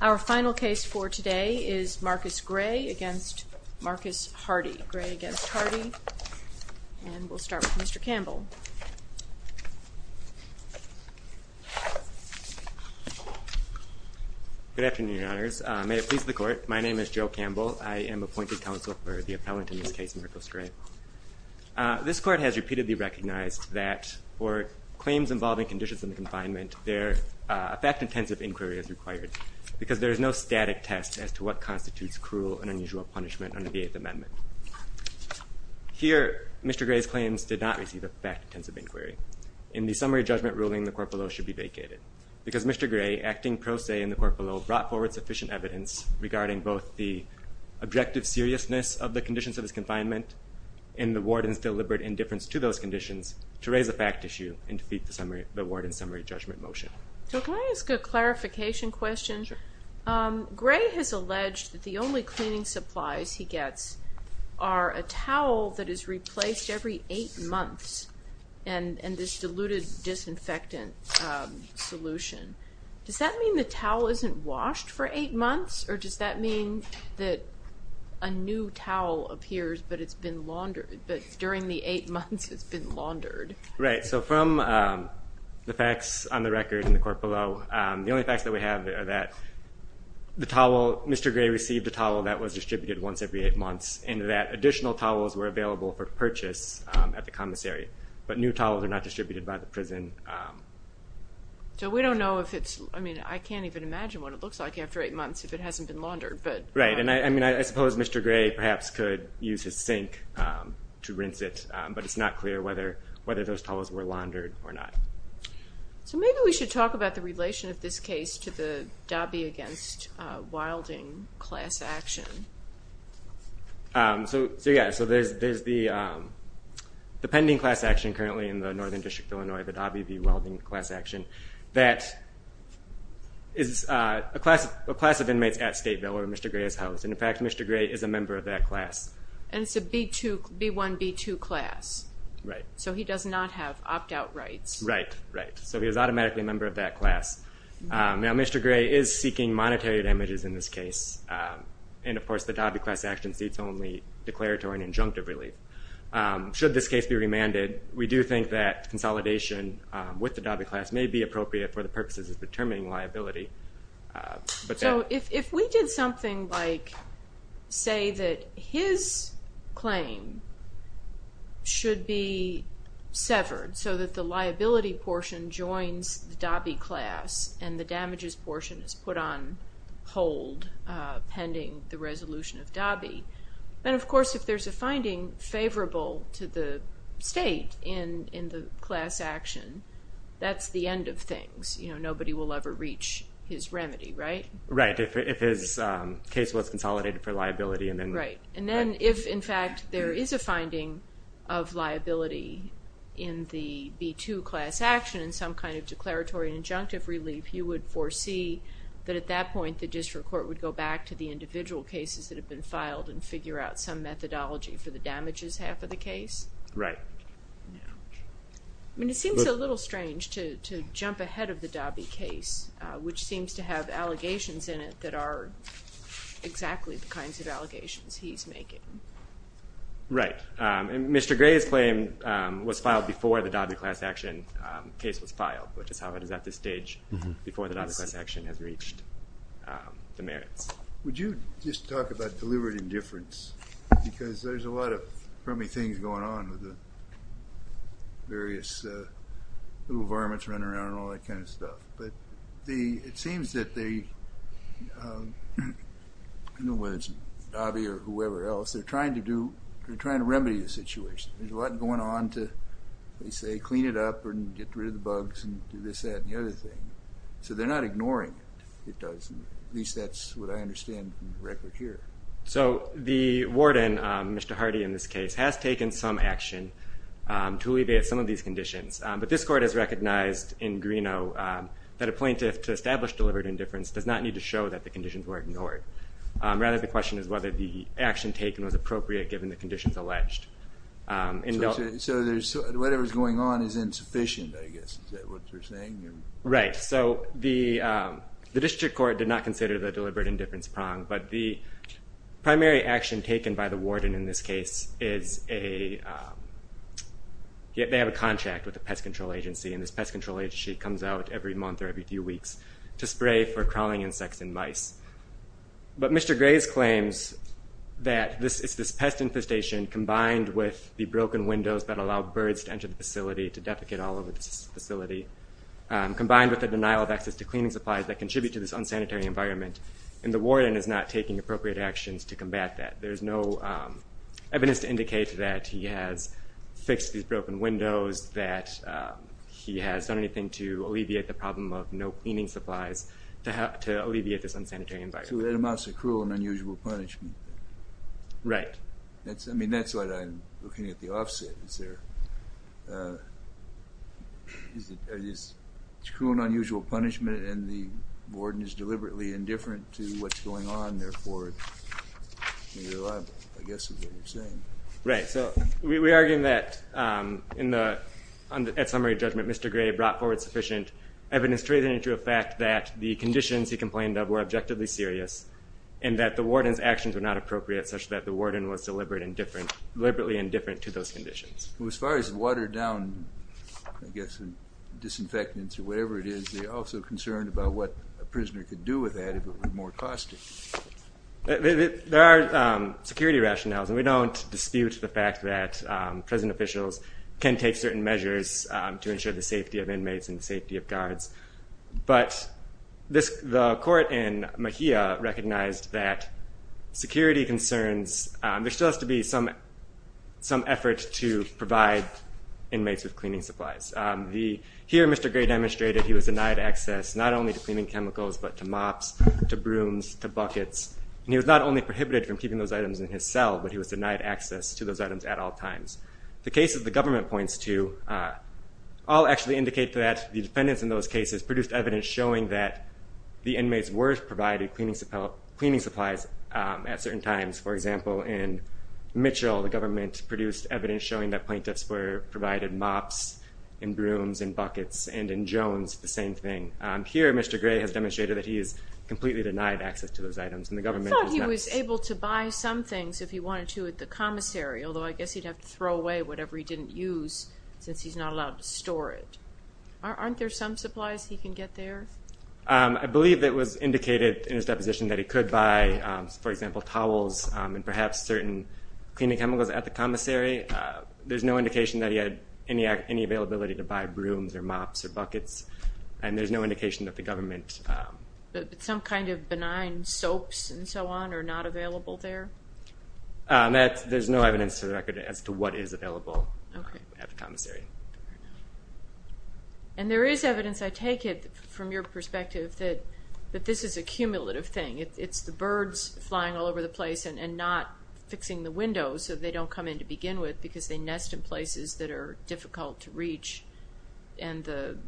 Our final case for today is Marcus Gray v. Marcus Hardy. Gray v. Hardy. And we'll start with Mr. Campbell. Good afternoon, Your Honors. May it please the Court, my name is Joe Campbell. I am appointed counsel for the appellant in this case, Marcos Gray. This Court has repeatedly recognized that for claims involving conditions in the confinement, a fact-intensive inquiry is required because there is no static test as to what constitutes cruel and unusual punishment under the Eighth Amendment. Here, Mr. Gray's claims did not receive a fact-intensive inquiry. In the summary judgment ruling, the court below should be vacated because Mr. Gray, acting pro se in the court below, brought forward sufficient evidence regarding both the objective seriousness of the conditions of his confinement and the warden's deliberate indifference to those conditions to raise the fact issue and defeat the warden's summary judgment motion. So can I ask a clarification question? Sure. Gray has alleged that the only cleaning supplies he gets are a towel that is replaced every eight months and this diluted disinfectant solution. Does that mean the towel isn't washed for eight months, or does that mean that a new towel appears but it's been laundered, but during the eight months it's been laundered? Right. So from the facts on the record in the court below, the only facts that we have are that the towel, Mr. Gray received a towel that was distributed once every eight months and that additional towels were available for purchase at the commissary, but new towels are not distributed by the prison. So we don't know if it's, I mean, I can't even imagine what it looks like after eight months if it hasn't been laundered. Right. And, I mean, I suppose Mr. Gray perhaps could use his sink to rinse it, but it's not clear whether those towels were laundered or not. So maybe we should talk about the relation of this case to the Dobby v. Wilding class action. So, yeah, so there's the pending class action currently in the Northern District of Illinois, the Dobby v. Wilding class action, that is a class of inmates at Stateville where Mr. Gray is housed, and, in fact, Mr. Gray is a member of that class. And it's a B-1, B-2 class. Right. So he does not have opt-out rights. Right, right. So he is automatically a member of that class. Now, Mr. Gray is seeking monetary damages in this case, and, of course, the Dobby class action seats only declaratory and injunctive relief. Should this case be remanded, we do think that consolidation with the Dobby class may be appropriate for the purposes of determining liability. So if we did something like say that his claim should be severed so that the liability portion joins the Dobby class and the damages portion is put on hold pending the resolution of Dobby, then, of course, if there's a finding favorable to the state in the class action, that's the end of things. You know, nobody will ever reach his remedy, right? Right. If his case was consolidated for liability and then... Right. And then if, in fact, there is a finding of liability in the B-2 class action and some kind of declaratory and injunctive relief, you would foresee that, at that point, the district court would go back to the individual cases that have been filed and figure out some methodology for the damages half of the case? Right. I mean, it seems a little strange to jump ahead of the Dobby case, which seems to have allegations in it that are exactly the kinds of allegations he's making. Right. And Mr. Gray's claim was filed before the Dobby class action case was filed, which is how it is at this stage, before the Dobby class action has reached the merits. Would you just talk about deliberate indifference? Because there's a lot of crummy things going on with the various little varmints running around and all that kind of stuff. But it seems that they, I don't know whether it's Dobby or whoever else, they're trying to remedy the situation. There's a lot going on to, they say, clean it up and get rid of the bugs and do this, that, and the other thing. So they're not ignoring it. At least that's what I understand from the record here. So the warden, Mr. Hardy in this case, has taken some action to alleviate some of these conditions. But this court has recognized in Greeno that a plaintiff to establish deliberate indifference does not need to show that the conditions were ignored. Rather, the question is whether the action taken was appropriate given the conditions alleged. So whatever's going on is insufficient, I guess, is that what you're saying? Right. So the district court did not consider the deliberate indifference prong, but the primary action taken by the warden in this case is a, they have a contract with a pest control agency, and this pest control agency comes out every month or every few weeks to spray for crawling insects and mice. But Mr. Graves claims that it's this pest infestation combined with the broken windows that allow birds to enter the facility, to deprecate all over the facility, combined with the denial of access to cleaning supplies that contribute to this unsanitary environment, and the warden is not taking appropriate actions to combat that. There's no evidence to indicate that he has fixed these broken windows, that he has done anything to alleviate the problem of no cleaning supplies to alleviate this unsanitary environment. So that amounts to cruel and unusual punishment. Right. I mean, that's what I'm looking at the offset. Is it cruel and unusual punishment, and the warden is deliberately indifferent to what's going on, or is it reliable, I guess, is what you're saying. Right. So we argue that at summary judgment, Mr. Graves brought forward sufficient evidence truthing to a fact that the conditions he complained of were objectively serious and that the warden's actions were not appropriate such that the warden was deliberately indifferent to those conditions. Well, as far as watered down, I guess, disinfectants or whatever it is, we're also concerned about what a prisoner could do with that if it were more costly. There are security rationales, and we don't dispute the fact that prison officials can take certain measures to ensure the safety of inmates and the safety of guards. But the court in Mejia recognized that security concerns, there still has to be some effort to provide inmates with cleaning supplies. Here, Mr. Gray demonstrated he was denied access not only to cleaning chemicals but to mops, to brooms, to buckets, and he was not only prohibited from keeping those items in his cell, but he was denied access to those items at all times. The cases the government points to all actually indicate that the defendants in those cases produced evidence showing that the inmates were provided cleaning supplies at certain times. For example, in Mitchell, the government produced evidence showing that plaintiffs were provided mops, and brooms, and buckets, and in Jones, the same thing. Here, Mr. Gray has demonstrated that he is completely denied access to those items. I thought he was able to buy some things if he wanted to at the commissary, although I guess he'd have to throw away whatever he didn't use since he's not allowed to store it. Aren't there some supplies he can get there? I believe it was indicated in his deposition that he could buy, for example, towels and perhaps certain cleaning chemicals at the commissary. There's no indication that he had any availability to buy brooms or mops or buckets, and there's no indication that the government... Some kind of benign soaps and so on are not available there? There's no evidence to the record as to what is available at the commissary. And there is evidence, I take it, from your perspective, that this is a cumulative thing. It's the birds flying all over the place and not fixing the windows so they don't come in to begin with because they nest in places that are difficult to reach, and the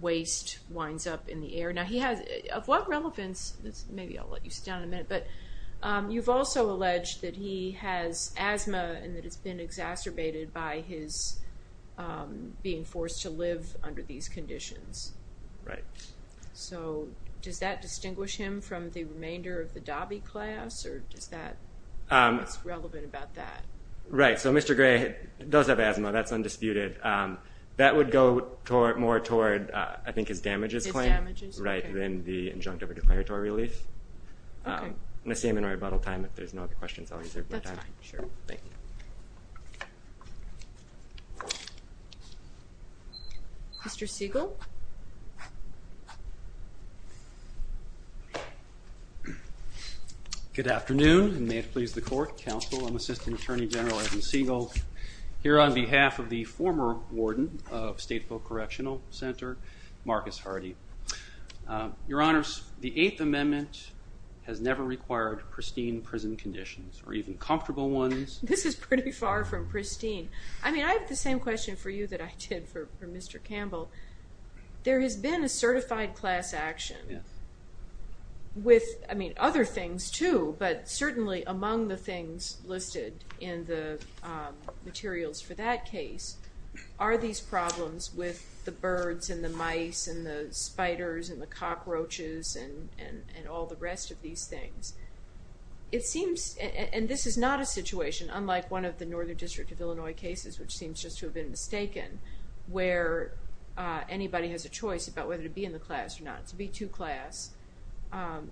waste winds up in the air. Now he has, of what relevance, maybe I'll let you sit down in a minute, but you've also alleged that he has asthma and that it's been exacerbated by his being forced to live under these conditions. Right. So does that distinguish him from the remainder of the Dobby class, or what's relevant about that? Right, so Mr. Gray does have asthma. That's undisputed. That would go more toward, I think, his damages claim than the injunctive or declaratory relief. Okay. I'm going to say I'm in right about all time. If there's no other questions, I'll reserve my time. That's fine. Thank you. Mr. Siegel. Good afternoon, and may it please the Court, Counsel, and Assistant Attorney General Evan Siegel, here on behalf of the former warden of State Folk Correctional Center, Marcus Hardy. Your Honors, the Eighth Amendment has never required pristine prison conditions, or even comfortable ones. This is pretty far from pristine. I mean, I have the same question for you that I did for Mr. Campbell. There has been a certified class action with, I mean, other things too, but certainly among the things listed in the materials for that case, are these problems with the birds and the mice and the spiders and the cockroaches and all the rest of these things. It seems, and this is not a situation unlike one of the Northern District of Illinois cases, which seems just to have been mistaken, where anybody has a choice about whether to be in the class or not, to be too class.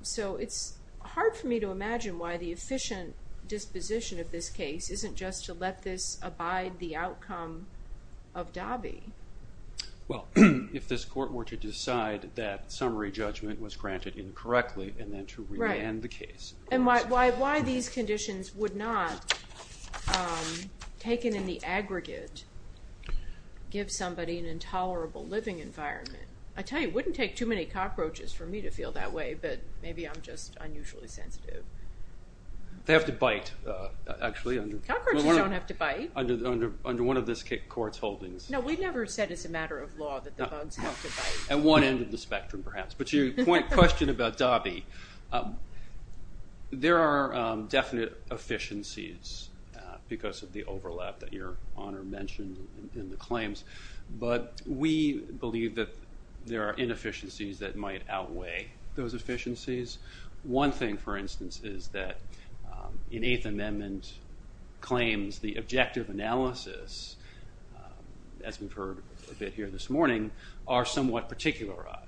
So it's hard for me to imagine why the efficient disposition of this case isn't just to let this abide the outcome of DAVI. Well, if this Court were to decide that summary judgment was granted incorrectly and then to remand the case. And why these conditions would not, taken in the aggregate, give somebody an intolerable living environment. I tell you, it wouldn't take too many cockroaches for me to feel that way, but maybe I'm just unusually sensitive. They have to bite, actually. Cockroaches don't have to bite. Under one of this Court's holdings. No, we've never said as a matter of law that the bugs have to bite. At one end of the spectrum, perhaps. But to your question about DAVI, there are definite efficiencies because of the overlap that Your Honor mentioned in the claims, but we believe that there are inefficiencies that might outweigh those efficiencies. One thing, for instance, is that in Eighth Amendment claims, the objective analysis, as we've heard a bit here this morning, are somewhat particularized.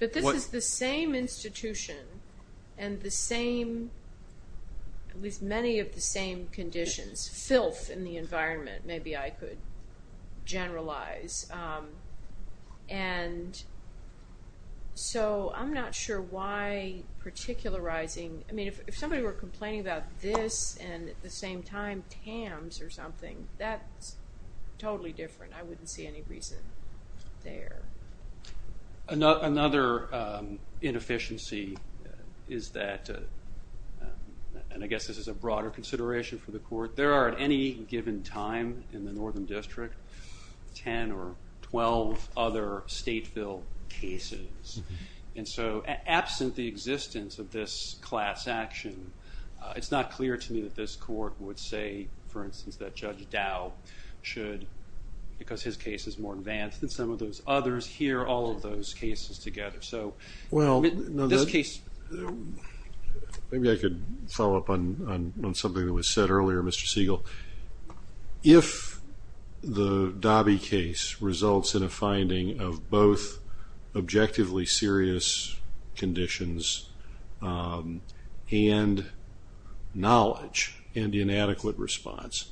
But this is the same institution and the same, at least many of the same conditions. Filth in the environment, maybe I could generalize. And so I'm not sure why particularizing. I mean, if somebody were complaining about this and at the same time TAMS or something, that's totally different. I wouldn't see any reason there. Another inefficiency is that, and I guess this is a broader consideration for the Court, but there are at any given time in the Northern District 10 or 12 other state bill cases. And so absent the existence of this class action, it's not clear to me that this Court would say, for instance, that Judge Dow should, because his case is more advanced than some of those others, hear all of those cases together. Well, maybe I could follow up on something that was said earlier, Mr. Siegel. If the Dobby case results in a finding of both objectively serious conditions and knowledge and inadequate response,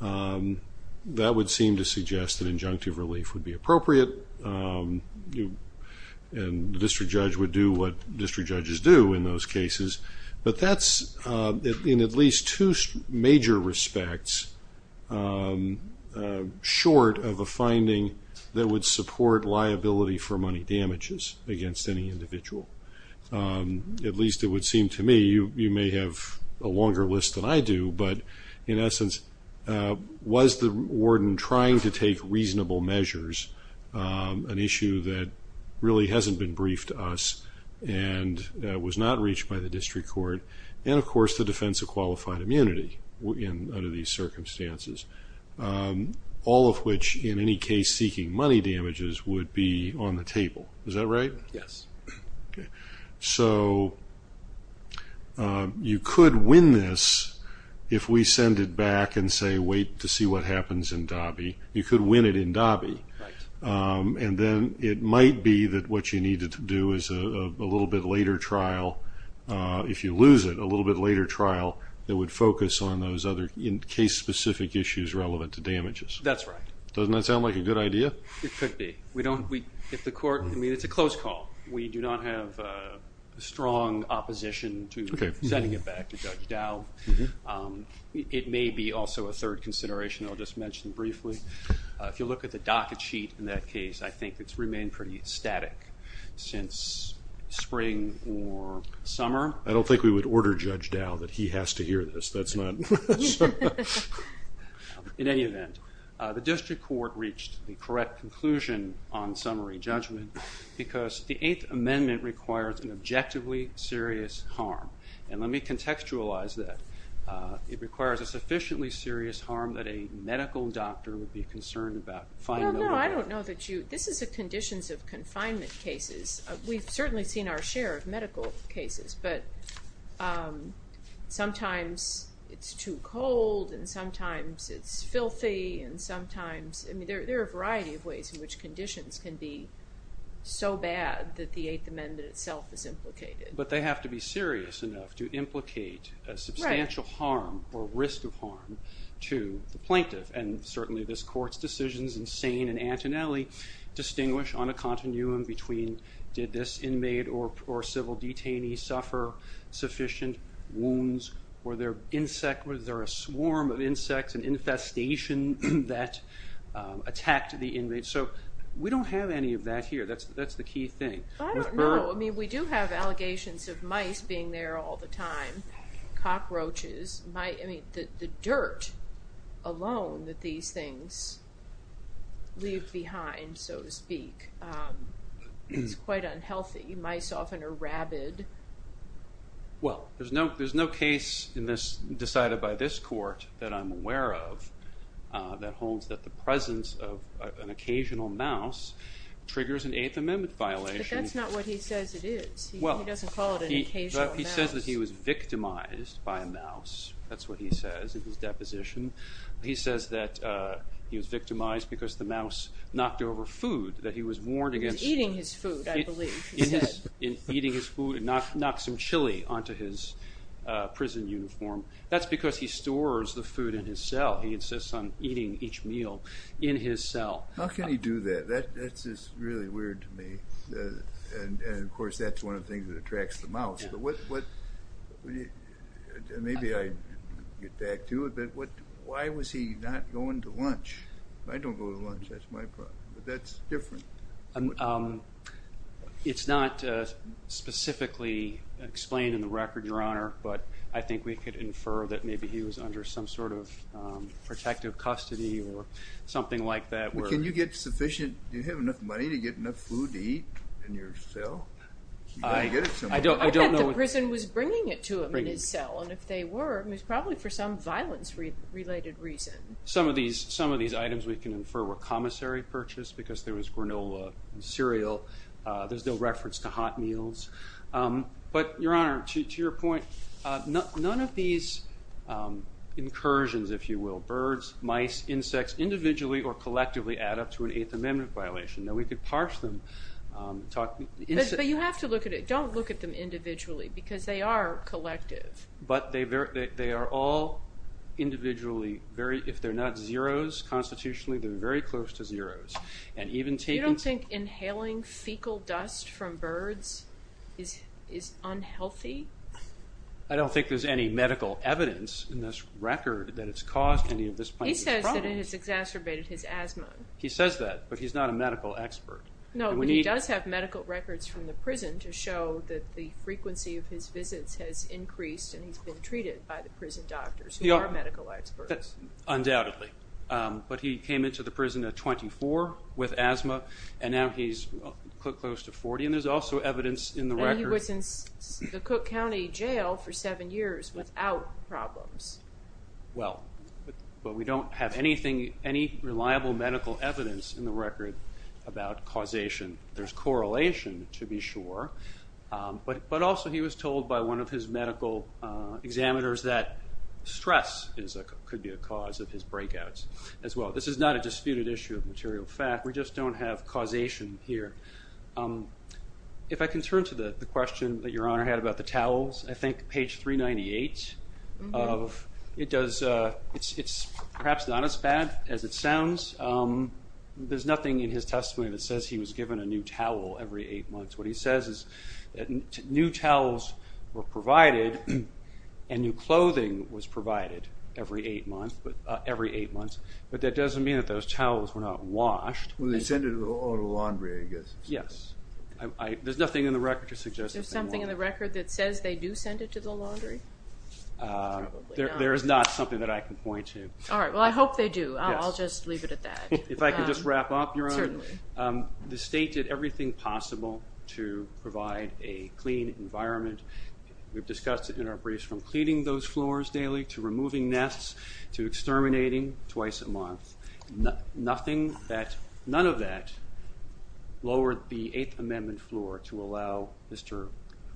that would seem to suggest that injunctive relief would be appropriate. And the district judge would do what district judges do in those cases. But that's in at least two major respects short of a finding that would support liability for money damages against any individual. At least it would seem to me. You may have a longer list than I do. But in essence, was the warden trying to take reasonable measures, an issue that really hasn't been briefed to us and was not reached by the district court, and of course the defense of qualified immunity under these circumstances, all of which in any case seeking money damages would be on the table. Is that right? Yes. Okay. So you could win this if we send it back and say wait to see what happens in Dobby. You could win it in Dobby. And then it might be that what you need to do is a little bit later trial, if you lose it, a little bit later trial, that would focus on those other case-specific issues relevant to damages. That's right. Doesn't that sound like a good idea? It could be. It's a close call. We do not have strong opposition to sending it back to Judge Dow. It may be also a third consideration I'll just mention briefly. If you look at the docket sheet in that case, I think it's remained pretty static since spring or summer. I don't think we would order Judge Dow that he has to hear this. In any event, the district court reached the correct conclusion on summary judgment because the Eighth Amendment requires an objectively serious harm. And let me contextualize that. It requires a sufficiently serious harm that a medical doctor would be concerned about. No, no, I don't know that you – this is a conditions of confinement cases. We've certainly seen our share of medical cases, but sometimes it's too cold, and sometimes it's filthy, and sometimes – there are a variety of ways in which conditions can be so bad that the Eighth Amendment itself is implicated. But they have to be serious enough to implicate a substantial harm or risk of harm to the plaintiff. And certainly this court's decisions in Sane and Antonelli distinguish on a continuum between did this inmate or civil detainee suffer sufficient wounds, were there a swarm of insects and infestation that attacked the inmate. So we don't have any of that here. That's the key thing. I don't know. I mean, we do have allegations of mice being there all the time, cockroaches. The dirt alone that these things leave behind, so to speak, is quite unhealthy. Mice often are rabid. Well, there's no case decided by this court that I'm aware of that holds that the presence of an occasional mouse triggers an Eighth Amendment violation. But that's not what he says it is. He doesn't call it an occasional mouse. He says that he was victimized by a mouse. That's what he says in his deposition. He says that he was victimized because the mouse knocked over food, that he was warned against- He was eating his food, I believe, he said. Eating his food and knocked some chili onto his prison uniform. That's because he stores the food in his cell. He insists on eating each meal in his cell. How can he do that? That's just really weird to me. And, of course, that's one of the things that attracts the mouse. Maybe I get back to it, but why was he not going to lunch? I don't go to lunch. That's my problem, but that's different. It's not specifically explained in the record, Your Honor, but I think we could infer that maybe he was under some sort of protective custody or something like that. Do you have enough money to get enough food to eat in your cell? I bet the prison was bringing it to him in his cell, and if they were, it was probably for some violence-related reason. Some of these items we can infer were commissary purchase because there was granola and cereal. There's no reference to hot meals. But, Your Honor, to your point, none of these incursions, if you will, of birds, mice, insects, individually or collectively add up to an Eighth Amendment violation. Now, we could parse them. But you have to look at it. Don't look at them individually because they are collective. But they are all individually, if they're not zeros constitutionally, they're very close to zeros. You don't think inhaling fecal dust from birds is unhealthy? I don't think there's any medical evidence in this record that it's caused any of this plaintiff's problems. He says that it has exacerbated his asthma. He says that, but he's not a medical expert. No, but he does have medical records from the prison to show that the frequency of his visits has increased and he's been treated by the prison doctors who are medical experts. Undoubtedly. But he came into the prison at 24 with asthma, and now he's close to 40, and there's also evidence in the record. Now he was in the Cook County Jail for seven years without problems. Well, but we don't have anything, any reliable medical evidence in the record about causation. There's correlation to be sure, but also he was told by one of his medical examiners that stress could be a cause of his breakouts as well. This is not a disputed issue of material fact. We just don't have causation here. If I can turn to the question that Your Honor had about the towels, I think page 398. It's perhaps not as bad as it sounds. There's nothing in his testimony that says he was given a new towel every eight months. What he says is that new towels were provided and new clothing was provided every eight months, but that doesn't mean that those towels were not washed. Well, they send it all to laundry, I guess. Yes. There's nothing in the record to suggest that they weren't. There's something in the record that says they do send it to the laundry? There is not something that I can point to. All right. Well, I hope they do. I'll just leave it at that. If I could just wrap up, Your Honor. Certainly. The state did everything possible to provide a clean environment. None of that lowered the Eighth Amendment floor to allow Mr.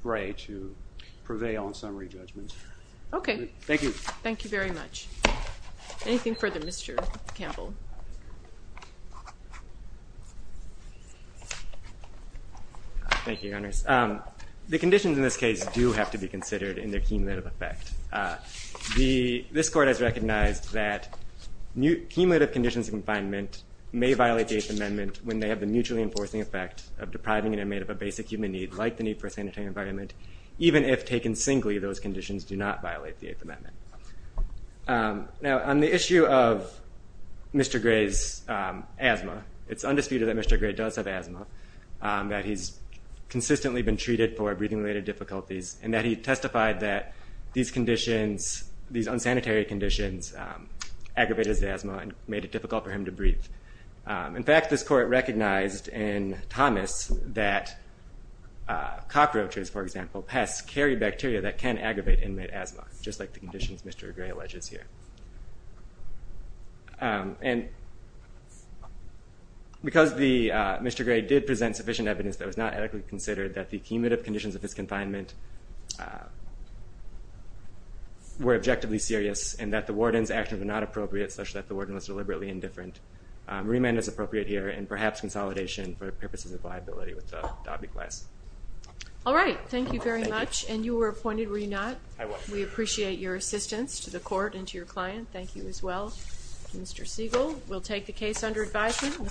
Gray to prevail on summary judgment. Okay. Thank you. Thank you very much. Anything further, Mr. Campbell? Thank you, Your Honors. The conditions in this case do have to be considered in their cumulative effect. This Court has recognized that cumulative conditions of confinement may violate the Eighth Amendment when they have the mutually enforcing effect of depriving an inmate of a basic human need, like the need for a sanitary environment, even if taken singly, those conditions do not violate the Eighth Amendment. Now, on the issue of Mr. Gray's asthma, it's undisputed that Mr. Gray does have asthma, that he's consistently been treated for breathing-related difficulties, and that he testified that these conditions, these unsanitary conditions, aggravated his asthma and made it difficult for him to breathe. In fact, this Court recognized in Thomas that cockroaches, for example, pests carry bacteria that can aggravate inmate asthma, just like the conditions Mr. Gray alleges here. And because Mr. Gray did present sufficient evidence that it was not adequately considered that the cumulative conditions of his confinement were objectively serious and that the warden's actions were not appropriate, such that the warden was deliberately indifferent, remand is appropriate here, and perhaps consolidation for purposes of viability with the Dobby class. All right. Thank you very much. And you were appointed, were you not? I was. We appreciate your assistance to the Court and to your client. Thank you as well, Mr. Siegel. We'll take the case under advisement.